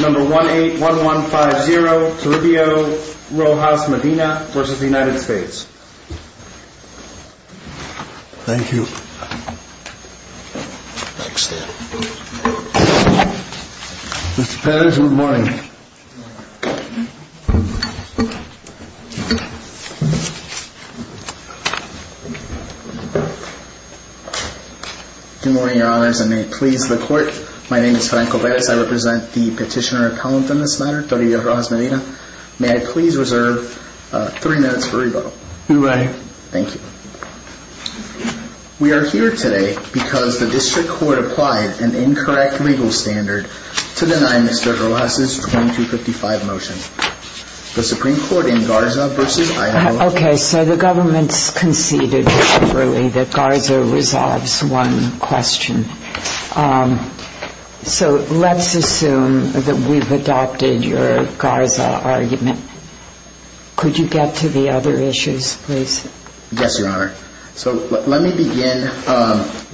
number one eight one one five zero to Rubio Rojas-Medina v. United States thank you Mr. Perez, good morning. Good morning your honors and may it please the court my name is Franco Perez I represent the petitioner appellant in this matter Toria Rojas-Medina. May I please reserve three minutes for rebuttal. You may. Thank you we are here today because the district court applied an incorrect legal standard to deny Mr. Rojas-Medina's 2255 motion. The Supreme Court in Garza versus Idaho. Okay so the government's conceded that Garza resolves one question so let's assume that we've adopted your Garza argument. Could you get to the other issues please? Yes your honor so let me begin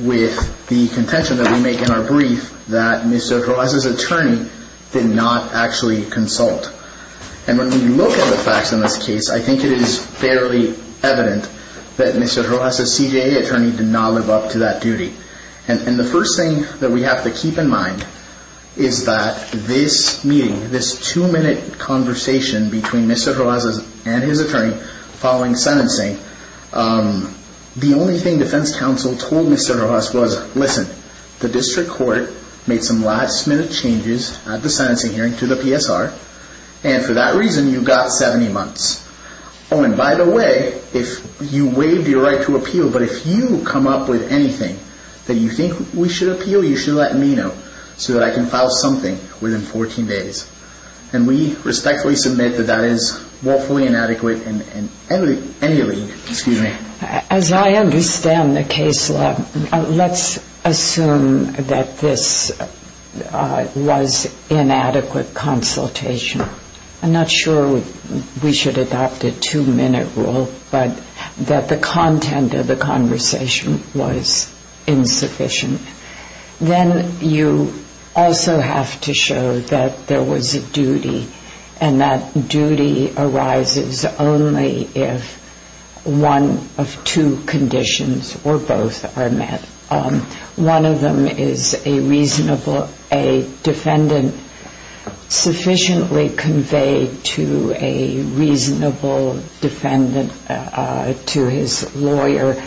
with the contention that we make in our brief that Mr. Rojas' attorney did not actually consult and when you look at the facts in this case I think it is fairly evident that Mr. Rojas' CJA attorney did not live up to that duty and the first thing that we have to keep in mind is that this meeting this two-minute conversation between Mr. Rojas and his attorney following sentencing the only thing defense counsel told Mr. Rojas was listen the district court made some last-minute changes at the sentencing hearing to the PSR and for that reason you got 70 months. Oh and by the way if you waived your right to appeal but if you come up with anything that you think we should appeal you should let me know so that I can file something within 14 days and we respectfully submit that that is woefully inadequate in any league. As I understand the case law let's assume that this was inadequate consultation I'm not sure we should adopt a two-minute rule but that the content of the conversation was insufficient then you also have to show that there was a duty and that duty arises only if one of two conditions or both are met. One of them is a reasonable a defendant sufficiently conveyed to a reasonable defendant to his lawyer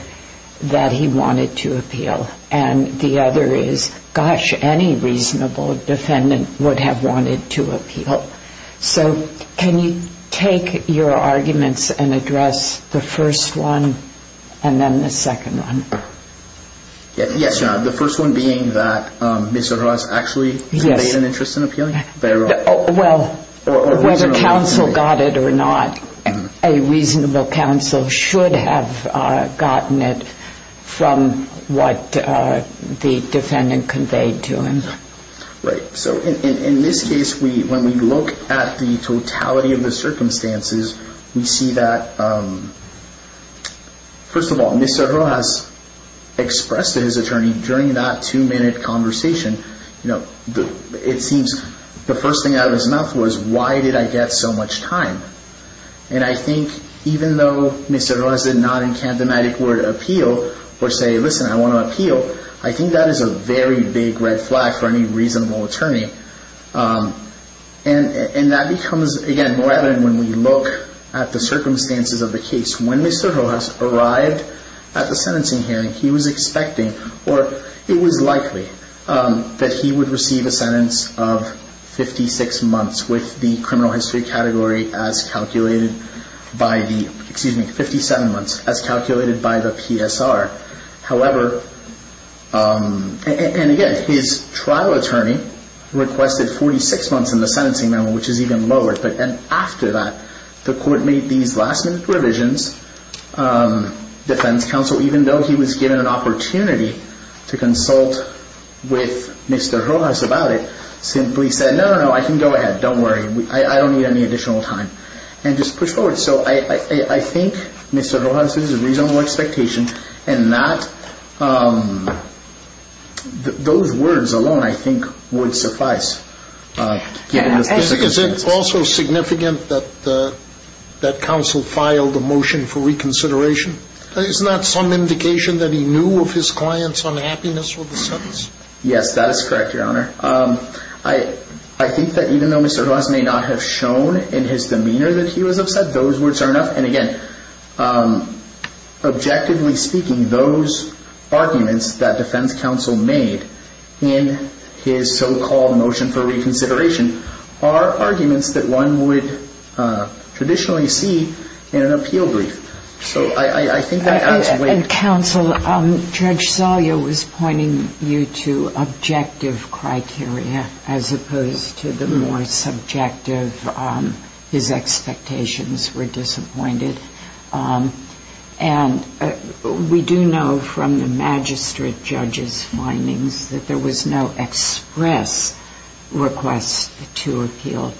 that he wanted to appeal and the other is gosh any reasonable defendant would have wanted to appeal. So can you take your arguments and address the first one and then the second one? Yes, the first one being that Mr. Rojas actually had an interest in appealing? Well whether counsel got it or not a reasonable counsel should have gotten it from what the defendant conveyed to him. Right, so in this case when we look at the totality of the circumstances we see that first of all Mr. Rojas expressed to his attorney during that two-minute conversation you know it seems the first thing out of his mouth was why did I get so much time and I think even though Mr. Rojas did not in kathematic word appeal or say listen I want to appeal I think that is a very big red flag for any reasonable attorney. And that becomes again more evident when we look at the circumstances of the case. When Mr. Rojas arrived at the sentencing hearing he was expecting or it was likely that he would receive a sentence of 56 months with the criminal history category as calculated. By the excuse me 57 months as calculated by the PSR. However and again his trial attorney requested 46 months in the sentencing memo which is even lower but then after that the court made these last-minute revisions defense counsel even though he was given an opportunity to consult with Mr. Rojas about it simply said no no I can go ahead don't worry I don't need any additional time and just go forward. So I think Mr. Rojas' reasonable expectation and not those words alone I think would suffice. Is it also significant that the counsel filed a motion for reconsideration? Is that some indication that he knew of his client's unhappiness with the sentence? Yes that is correct your honor. I think that even though Mr. Rojas may not have shown in his demeanor that he was upset those words are enough and again objectively speaking those arguments that defense counsel made in his so-called motion for reconsideration are arguments that one would traditionally see in an appeal brief. Counsel Judge Salyer was pointing you to objective criteria as opposed to the more subjective his expectations were disappointed and we do know from the magistrate judges findings that there was no express request to appeal.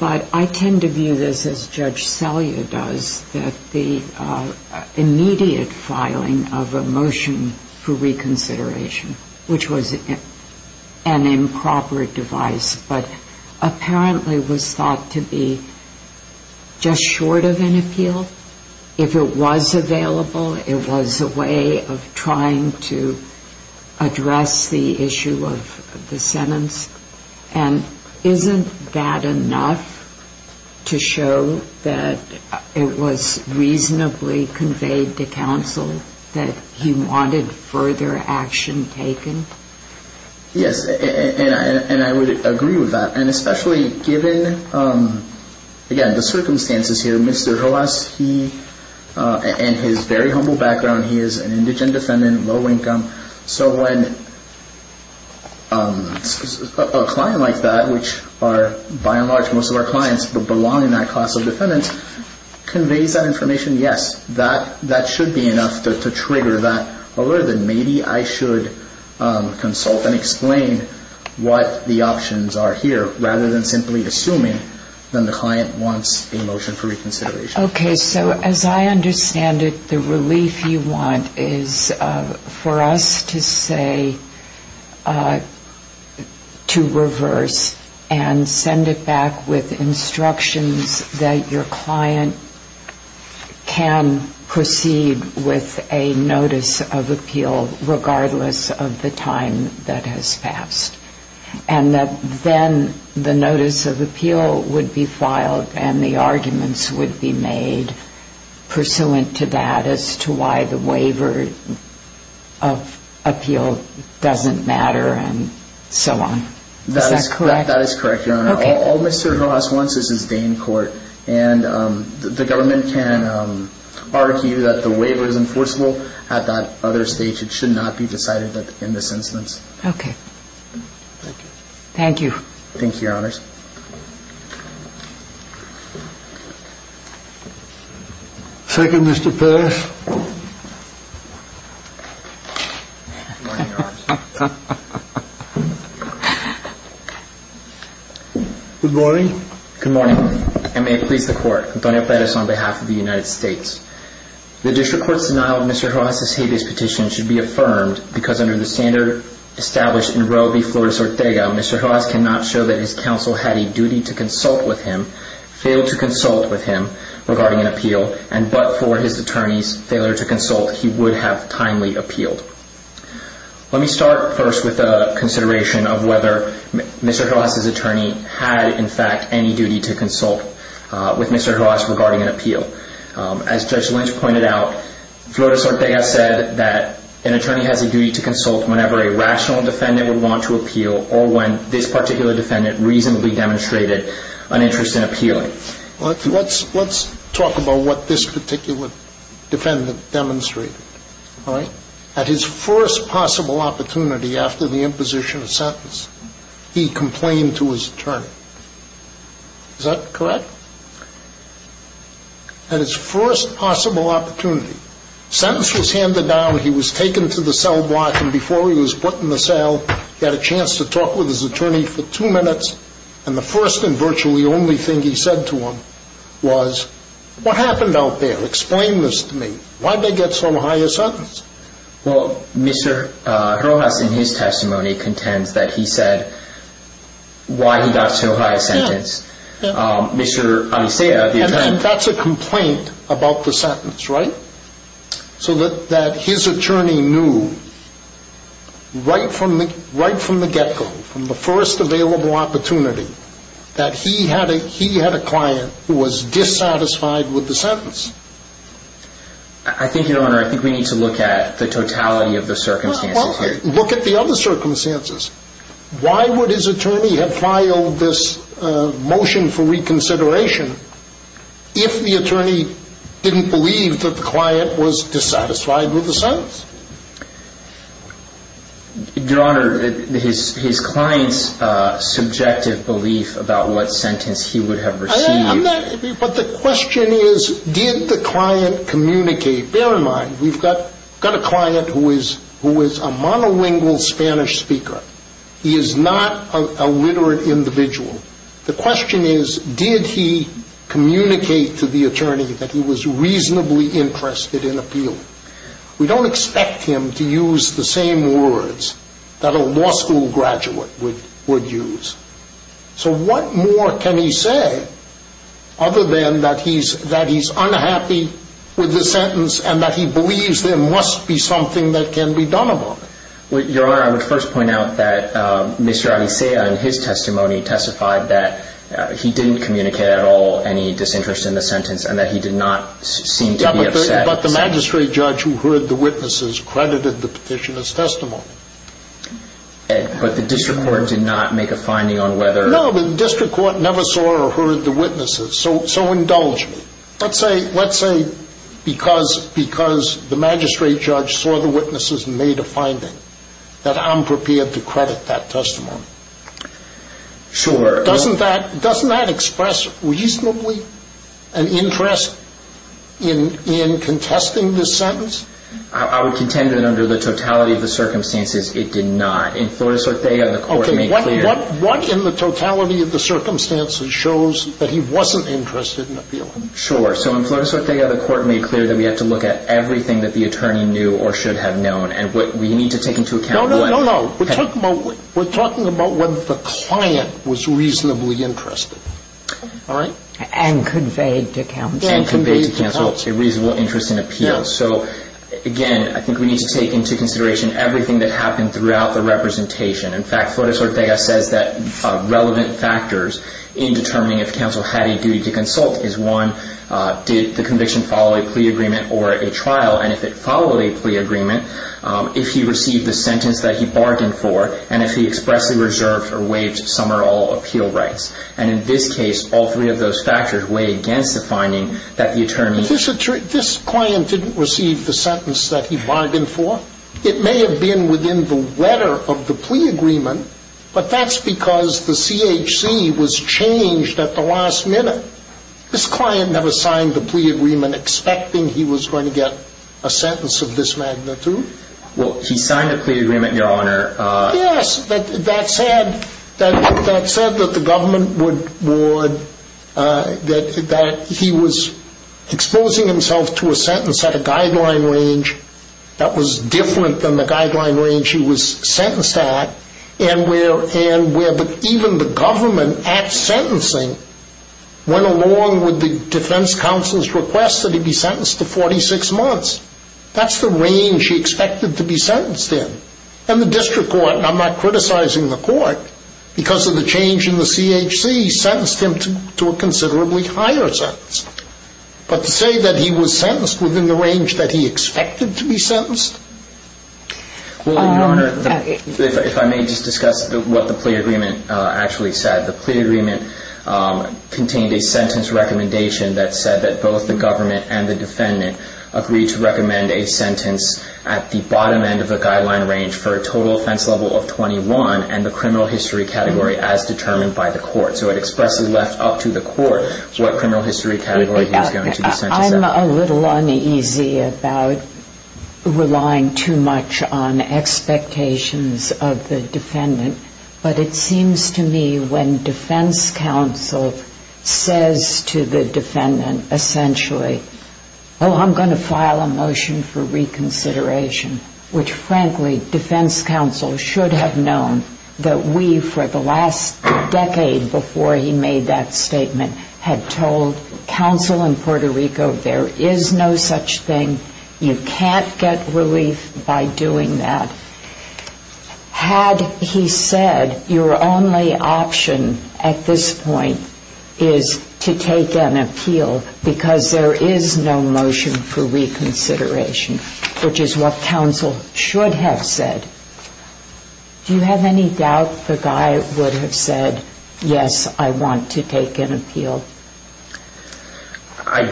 But I tend to view this as Judge Salyer does that the immediate filing of a motion for reconsideration which was an improper device but apparently was thought to be just short of an appeal if it was available it was a way of trying to address the issue of the sentence. And isn't that enough to show that it was reasonably conveyed to counsel that he wanted further action taken? Yes and I would agree with that and especially given again the circumstances here Mr. Rojas he and his very humble background he is an indigent defendant low income so when a client like that which are by and large most of our clients belong in that class of defendants conveys that information yes that should be enough to trigger that. But I think more than maybe I should consult and explain what the options are here rather than simply assuming that the client wants a motion for reconsideration. Okay so as I understand it the relief you want is for us to say to reverse and send it back with instructions that your client can proceed with a notice of appeal regardless of the time that has passed. And that then the notice of appeal would be filed and the arguments would be made pursuant to that as to why the waiver of appeal doesn't matter and so on is that correct? That is correct your honor all Mr. Rojas wants is his day in court and the government can argue that the waiver is enforceable at that other stage it should not be decided in this instance. Okay thank you. Thank you your honors. Second Mr. Perez. Good morning. Good morning. Good morning and may it please the court Antonio Perez on behalf of the United States. The district court's denial of Mr. Rojas' habeas petition should be affirmed because under the standard established in Roe v. Flores Ortega Mr. Rojas cannot show that his counsel had a duty to consult with him, failed to consult with him regarding an appeal and but for his attorney's failure to consult he would have timely appealed. Let me start first with a consideration of whether Mr. Rojas' attorney had in fact any duty to consult with Mr. Rojas regarding an appeal. As Judge Lynch pointed out Flores Ortega said that an attorney has a duty to consult whenever a rational defendant would want to appeal or when this particular defendant reasonably demonstrated an interest in appealing. Let's talk about what this particular defendant demonstrated. At his first possible opportunity after the imposition of sentence he complained to his attorney. Is that correct? At his first possible opportunity. Sentence was handed down. He was taken to the cell block and before he was put in the cell he had a chance to talk with his attorney for two minutes and the first and virtually only thing he said to him was what happened out there? Explain this to me. Why'd they get so high a sentence? Well Mr. Rojas in his testimony contends that he said why he got so high a sentence. Yeah. Mr. Amicea the attorney. And that's a complaint about the sentence right? So that his attorney knew right from the get go from the first available opportunity that he had a client who was dissatisfied with the sentence. I think your honor I think we need to look at the totality of the circumstances here. Look at the other circumstances. Why would his attorney have filed this motion for reconsideration if the attorney didn't believe that the client was dissatisfied with the sentence? Your honor his client's subjective belief about what sentence he would have received. But the question is did the client communicate? Bear in mind we've got a client who is a monolingual Spanish speaker. He is not a literate individual. The question is did he communicate to the attorney that he was reasonably interested in appealing? We don't expect him to use the same words that a law school graduate would use. So what more can he say other than that he's unhappy with the sentence and that he believes there must be something that can be done about it. Your honor I would first point out that Mr. Amicea in his testimony testified that he didn't communicate at all any disinterest in the sentence and that he did not seem to be upset. But the magistrate judge who heard the witnesses credited the petition as testimony. But the district court did not make a finding on whether... No the district court never saw or heard the witnesses so indulge me. Let's say because the magistrate judge saw the witnesses and made a finding that I'm prepared to credit that testimony. Sure. Doesn't that express reasonably an interest in contesting this sentence? I would contend that under the totality of the circumstances it did not. In Flores-Ortega the court made clear... Okay what in the totality of the circumstances shows that he wasn't interested in appealing? Sure. So in Flores-Ortega the court made clear that we have to look at everything that the attorney knew or should have known and what we need to take into account... No, no, no, no. We're talking about whether the client was reasonably interested. All right. And conveyed to counsel. And conveyed to counsel a reasonable interest in appeal. So, again, I think we need to take into consideration everything that happened throughout the representation. In fact, Flores-Ortega says that relevant factors in determining if counsel had a duty to consult is one, did the conviction follow a plea agreement or a trial? And if it followed a plea agreement, if he received the sentence that he bargained for, and if he expressly reserved or waived some or all appeal rights. And in this case all three of those factors weigh against the finding that the attorney... This client didn't receive the sentence that he bargained for. It may have been within the letter of the plea agreement, but that's because the CHC was changed at the last minute. This client never signed the plea agreement expecting he was going to get a sentence of this magnitude. Well, he signed a plea agreement, Your Honor. Yes, that said, that said that the government would, that he was exposing himself to a sentence at a guideline range that was different than the guideline range he was sentenced at, and where even the government at sentencing went along with the defense counsel's request that he be sentenced to 46 months. That's the range he expected to be sentenced in. And the district court, and I'm not criticizing the court, because of the change in the CHC, sentenced him to a considerably higher sentence. But to say that he was sentenced within the range that he expected to be sentenced? Well, Your Honor, if I may just discuss what the plea agreement actually said. The plea agreement contained a sentence recommendation that said that both the government and the defendant agreed to recommend a sentence at the bottom end of the guideline range for a total offense level of 21 and the criminal history category as determined by the court. So it expresses left up to the court what criminal history category he was going to be sentenced at. I'm a little uneasy about relying too much on expectations of the defendant. But it seems to me when defense counsel says to the defendant essentially, oh, I'm going to file a motion for reconsideration, which, frankly, defense counsel should have known that we, for the last decade before he made that statement, had told counsel in Puerto Rico there is no such thing, you can't get relief by doing that. Had he said your only option at this point is to take an appeal because there is no motion for reconsideration, which is what counsel should have said, do you have any doubt the guy would have said, yes, I want to take an appeal? I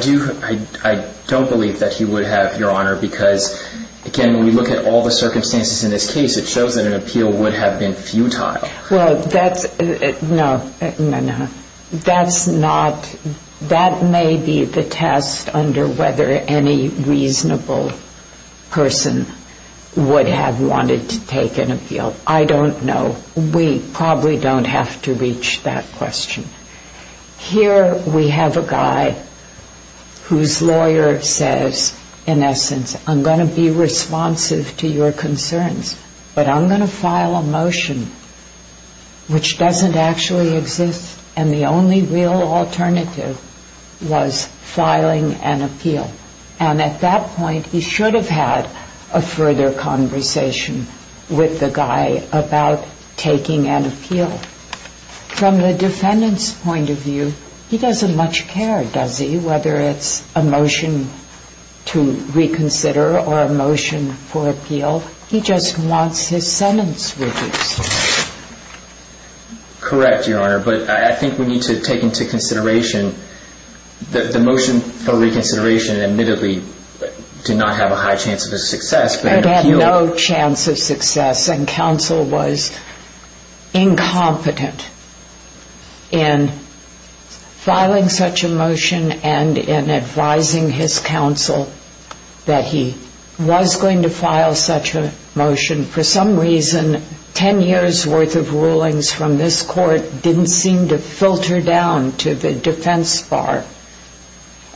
don't believe that he would have, Your Honor, because, again, when we look at all the circumstances in this case, it shows that an appeal would have been futile. Well, that's, no, no, no. That's not, that may be the test under whether any reasonable person would have wanted to take an appeal. I don't know. We probably don't have to reach that question. Here we have a guy whose lawyer says, in essence, I'm going to be responsive to your concerns, but I'm going to file a motion which doesn't actually exist, and the only real alternative was filing an appeal. And at that point, he should have had a further conversation with the guy about taking an appeal. From the defendant's point of view, he doesn't much care, does he, whether it's a motion to reconsider or a motion for appeal. He just wants his sentence reduced. Correct, Your Honor, but I think we need to take into consideration that the motion for reconsideration admittedly did not have a high chance of success. It had no chance of success, and counsel was incompetent in filing such a motion and in advising his counsel that he was going to file such a motion. For some reason, 10 years' worth of rulings from this court didn't seem to filter down to the defense bar,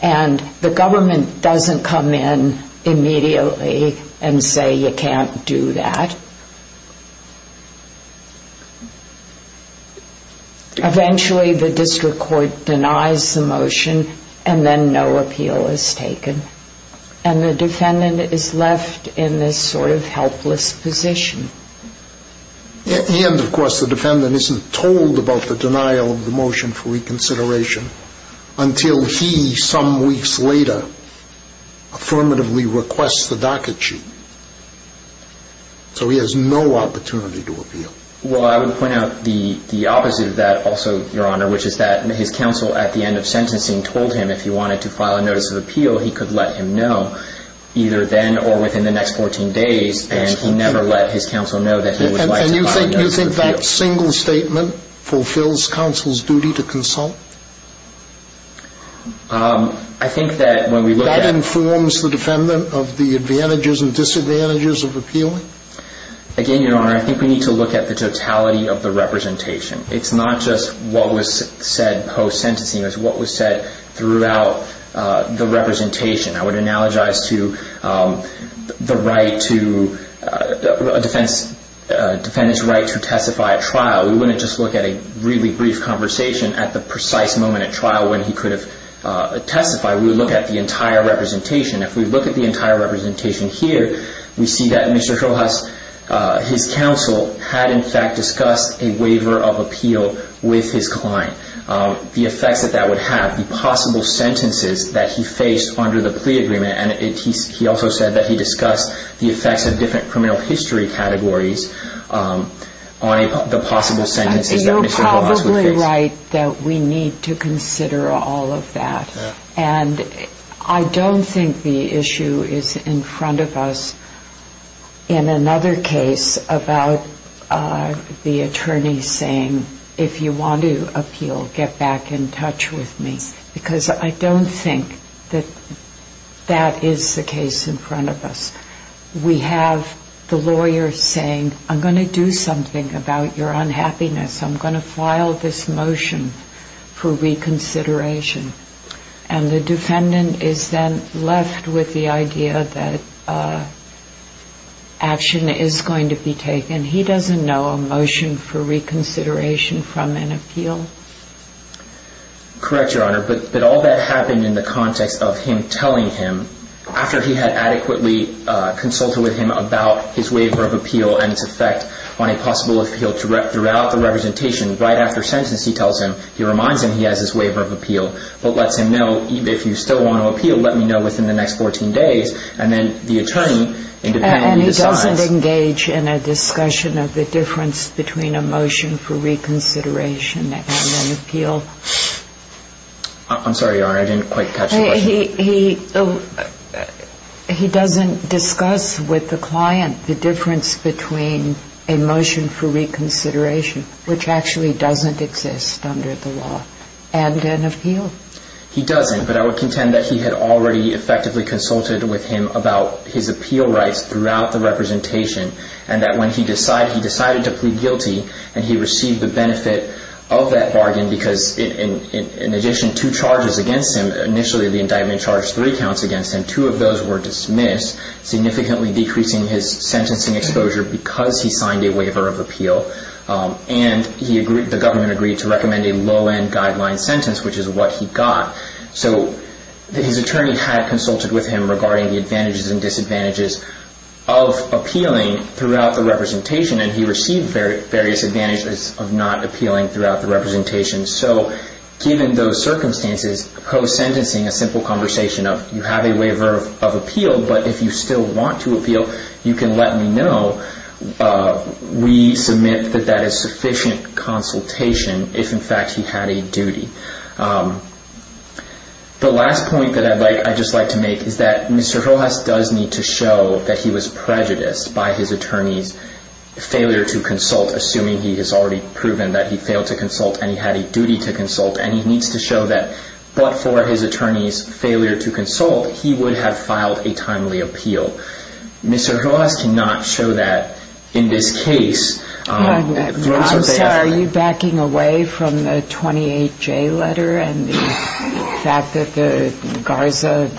and the government doesn't come in immediately and say you can't do that. Eventually, the district court denies the motion, and then no appeal is taken, and the defendant is left in this sort of helpless position. And, of course, the defendant isn't told about the denial of the motion for reconsideration until he, some weeks later, affirmatively requests the docket sheet. So he has no opportunity to appeal. Well, I would point out the opposite of that also, Your Honor, which is that his counsel at the end of sentencing told him if he wanted to file a notice of appeal, he could let him know either then or within the next 14 days, and he never let his counsel know that he would like to file a notice of appeal. And you think that single statement fulfills counsel's duty to consult? I think that when we look at... That informs the defendant of the advantages and disadvantages of appealing? Again, Your Honor, I think we need to look at the totality of the representation. It's not just what was said post-sentencing. It's what was said throughout the representation. I would analogize to the right to... A defendant's right to testify at trial. We wouldn't just look at a really brief conversation at the precise moment at trial when he could have testified. We would look at the entire representation. If we look at the entire representation here, we see that Mr. Rojas, his counsel, had, in fact, discussed a waiver of appeal with his client. The effects that that would have, the possible sentences that he faced under the plea agreement, and he also said that he discussed the effects of different criminal history categories on the possible sentences that Mr. Rojas would face. You're probably right that we need to consider all of that. And I don't think the issue is in front of us in another case about the attorney saying, if you want to appeal, get back in touch with me. Because I don't think that that is the case in front of us. We have the lawyer saying, I'm going to do something about your unhappiness. I'm going to file this motion for reconsideration. And the defendant is then left with the idea that action is going to be taken. He doesn't know a motion for reconsideration from an appeal. Correct, Your Honor, but all that happened in the context of him telling him, after he had adequately consulted with him about his waiver of appeal and its effect on a possible appeal throughout the representation, right after sentence he tells him, he reminds him he has his waiver of appeal, but lets him know, if you still want to appeal, let me know within the next 14 days. And then the attorney independently decides. And he doesn't engage in a discussion of the difference between a motion for reconsideration and an appeal. I'm sorry, Your Honor, I didn't quite catch the question. He doesn't discuss with the client the difference between a motion for reconsideration, which actually doesn't exist under the law, and an appeal. He doesn't, but I would contend that he had already effectively consulted with him about his appeal rights throughout the representation, and that when he decided, he decided to plead guilty, and he received the benefit of that bargain because, in addition, two charges against him, initially the indictment charged three counts against him, two of those were dismissed, significantly decreasing his sentencing exposure because he signed a waiver of appeal, and the government agreed to recommend a low-end guideline sentence, which is what he got. So his attorney had consulted with him regarding the advantages and disadvantages of appealing throughout the representation, and he received various advantages of not appealing throughout the representation. So given those circumstances, post-sentencing, a simple conversation of, you have a waiver of appeal, but if you still want to appeal, you can let me know. We submit that that is sufficient consultation if, in fact, he had a duty. The last point that I'd just like to make is that Mr. Rojas does need to show that he was prejudiced by his attorney's failure to consult, assuming he has already proven that he failed to consult and he had a duty to consult, and he needs to show that, but for his attorney's failure to consult, he would have filed a timely appeal. Mr. Rojas cannot show that in this case. Mr. Rojas, are you backing away from the 28J letter and the fact that the Garza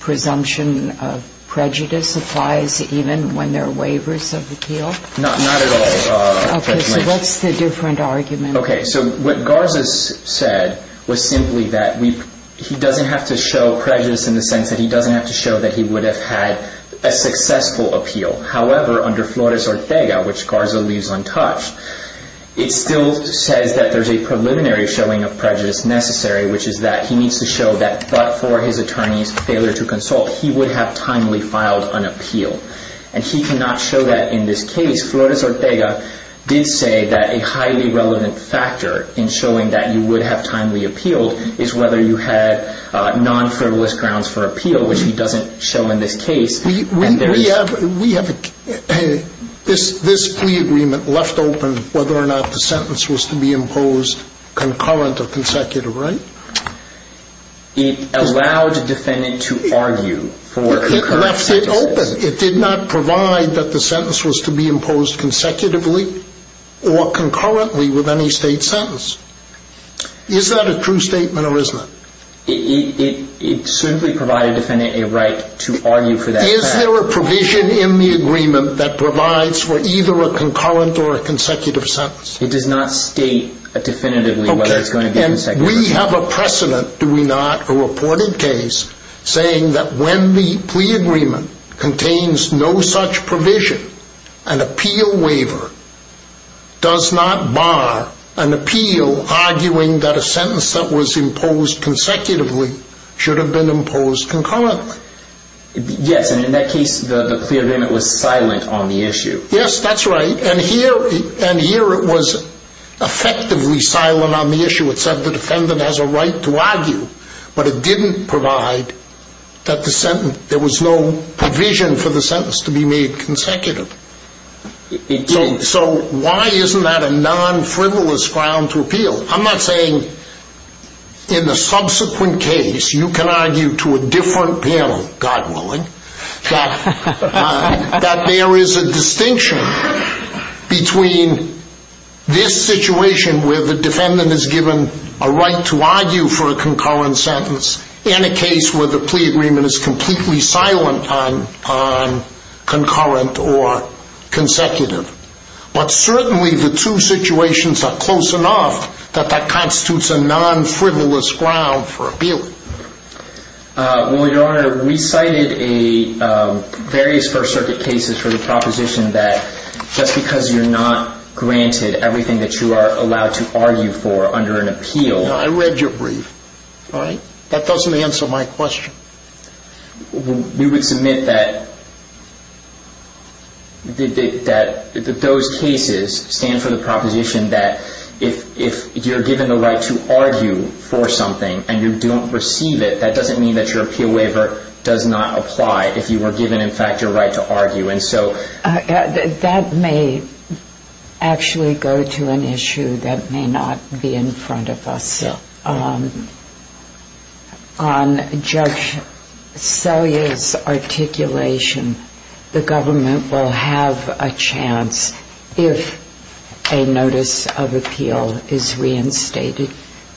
presumption of prejudice applies even when there are waivers of appeal? Not at all. Okay, so what's the different argument? Okay, so what Garza said was simply that he doesn't have to show prejudice in the sense that he doesn't have to show that he would have had a successful appeal. However, under Flores-Ortega, which Garza leaves untouched, it still says that there's a preliminary showing of prejudice necessary, which is that he needs to show that, but for his attorney's failure to consult, he would have timely filed an appeal, and he cannot show that in this case. Mr. Rojas, Flores-Ortega did say that a highly relevant factor in showing that you would have timely appealed is whether you had non-federalist grounds for appeal, which he doesn't show in this case. We have this plea agreement left open whether or not the sentence was to be imposed concurrent or consecutive, right? It allowed the defendant to argue for concurrent sentences. But it opened. It did not provide that the sentence was to be imposed consecutively or concurrently with any state sentence. Is that a true statement or isn't it? It simply provided the defendant a right to argue for that fact. Is there a provision in the agreement that provides for either a concurrent or a consecutive sentence? It does not state definitively whether it's going to be consecutive. We have a precedent, do we not? A reported case saying that when the plea agreement contains no such provision, an appeal waiver does not bar an appeal arguing that a sentence that was imposed consecutively should have been imposed concurrently. Yes, and in that case, the plea agreement was silent on the issue. Yes, that's right, and here it was effectively silent on the issue. It said the defendant has a right to argue, but it didn't provide that there was no provision for the sentence to be made consecutive. So why isn't that a non-frivolous ground to appeal? I'm not saying in the subsequent case you can argue to a different panel, God willing, that there is a distinction between this situation where the defendant is given a right to argue for a concurrent sentence and a case where the plea agreement is completely silent on concurrent or consecutive. But certainly the two situations are close enough that that constitutes a non-frivolous ground for appealing. Well, Your Honor, we cited various First Circuit cases for the proposition that just because you're not granted everything that you are allowed to argue for under an appeal I read your brief. All right. That doesn't answer my question. We would submit that those cases stand for the proposition that if you're given the right to argue for something and you don't receive it, that doesn't mean that your appeal waiver does not apply. If you were given, in fact, your right to argue. And so... That may actually go to an issue that may not be in front of us. Yeah. On Judge Selye's articulation, the government will have a chance if a notice of appeal is reinstated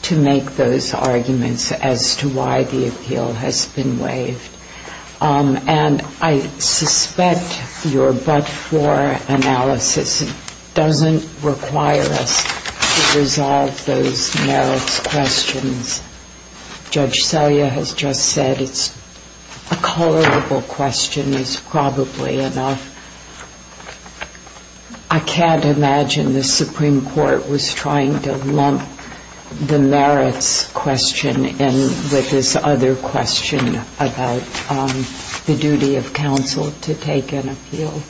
to make those arguments as to why the appeal has been waived. And I suspect your but-for analysis doesn't require us to resolve those merits questions. Judge Selye has just said a colorable question is probably enough. I can't imagine the Supreme Court was trying to lump the merits question in with this other question about the duty of counsel to take an appeal.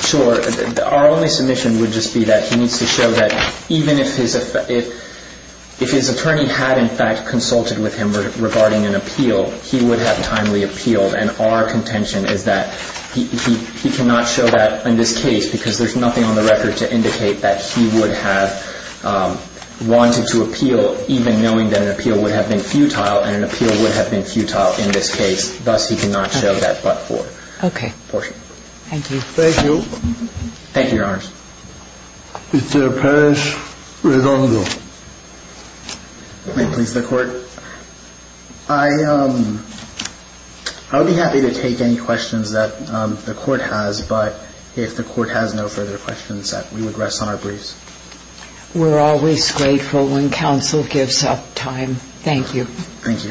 Sure. Our only submission would just be that he needs to show that even if his attorney had, in fact, consulted with him regarding an appeal, he would have timely appealed. And our contention is that he cannot show that in this case because there's nothing on the record to indicate that he would have wanted to appeal even knowing that an appeal would have been futile and an appeal would have been futile in this case. Thus, he cannot show that but-for. Okay. Portion. Thank you. Thank you. Thank you, Your Honors. Mr. Perez-Redondo. May it please the Court? I would be happy to take any questions that the Court has, but if the Court has no further questions, we would rest on our briefs. We're always grateful when counsel gives up time. Thank you. Thank you, Your Honor.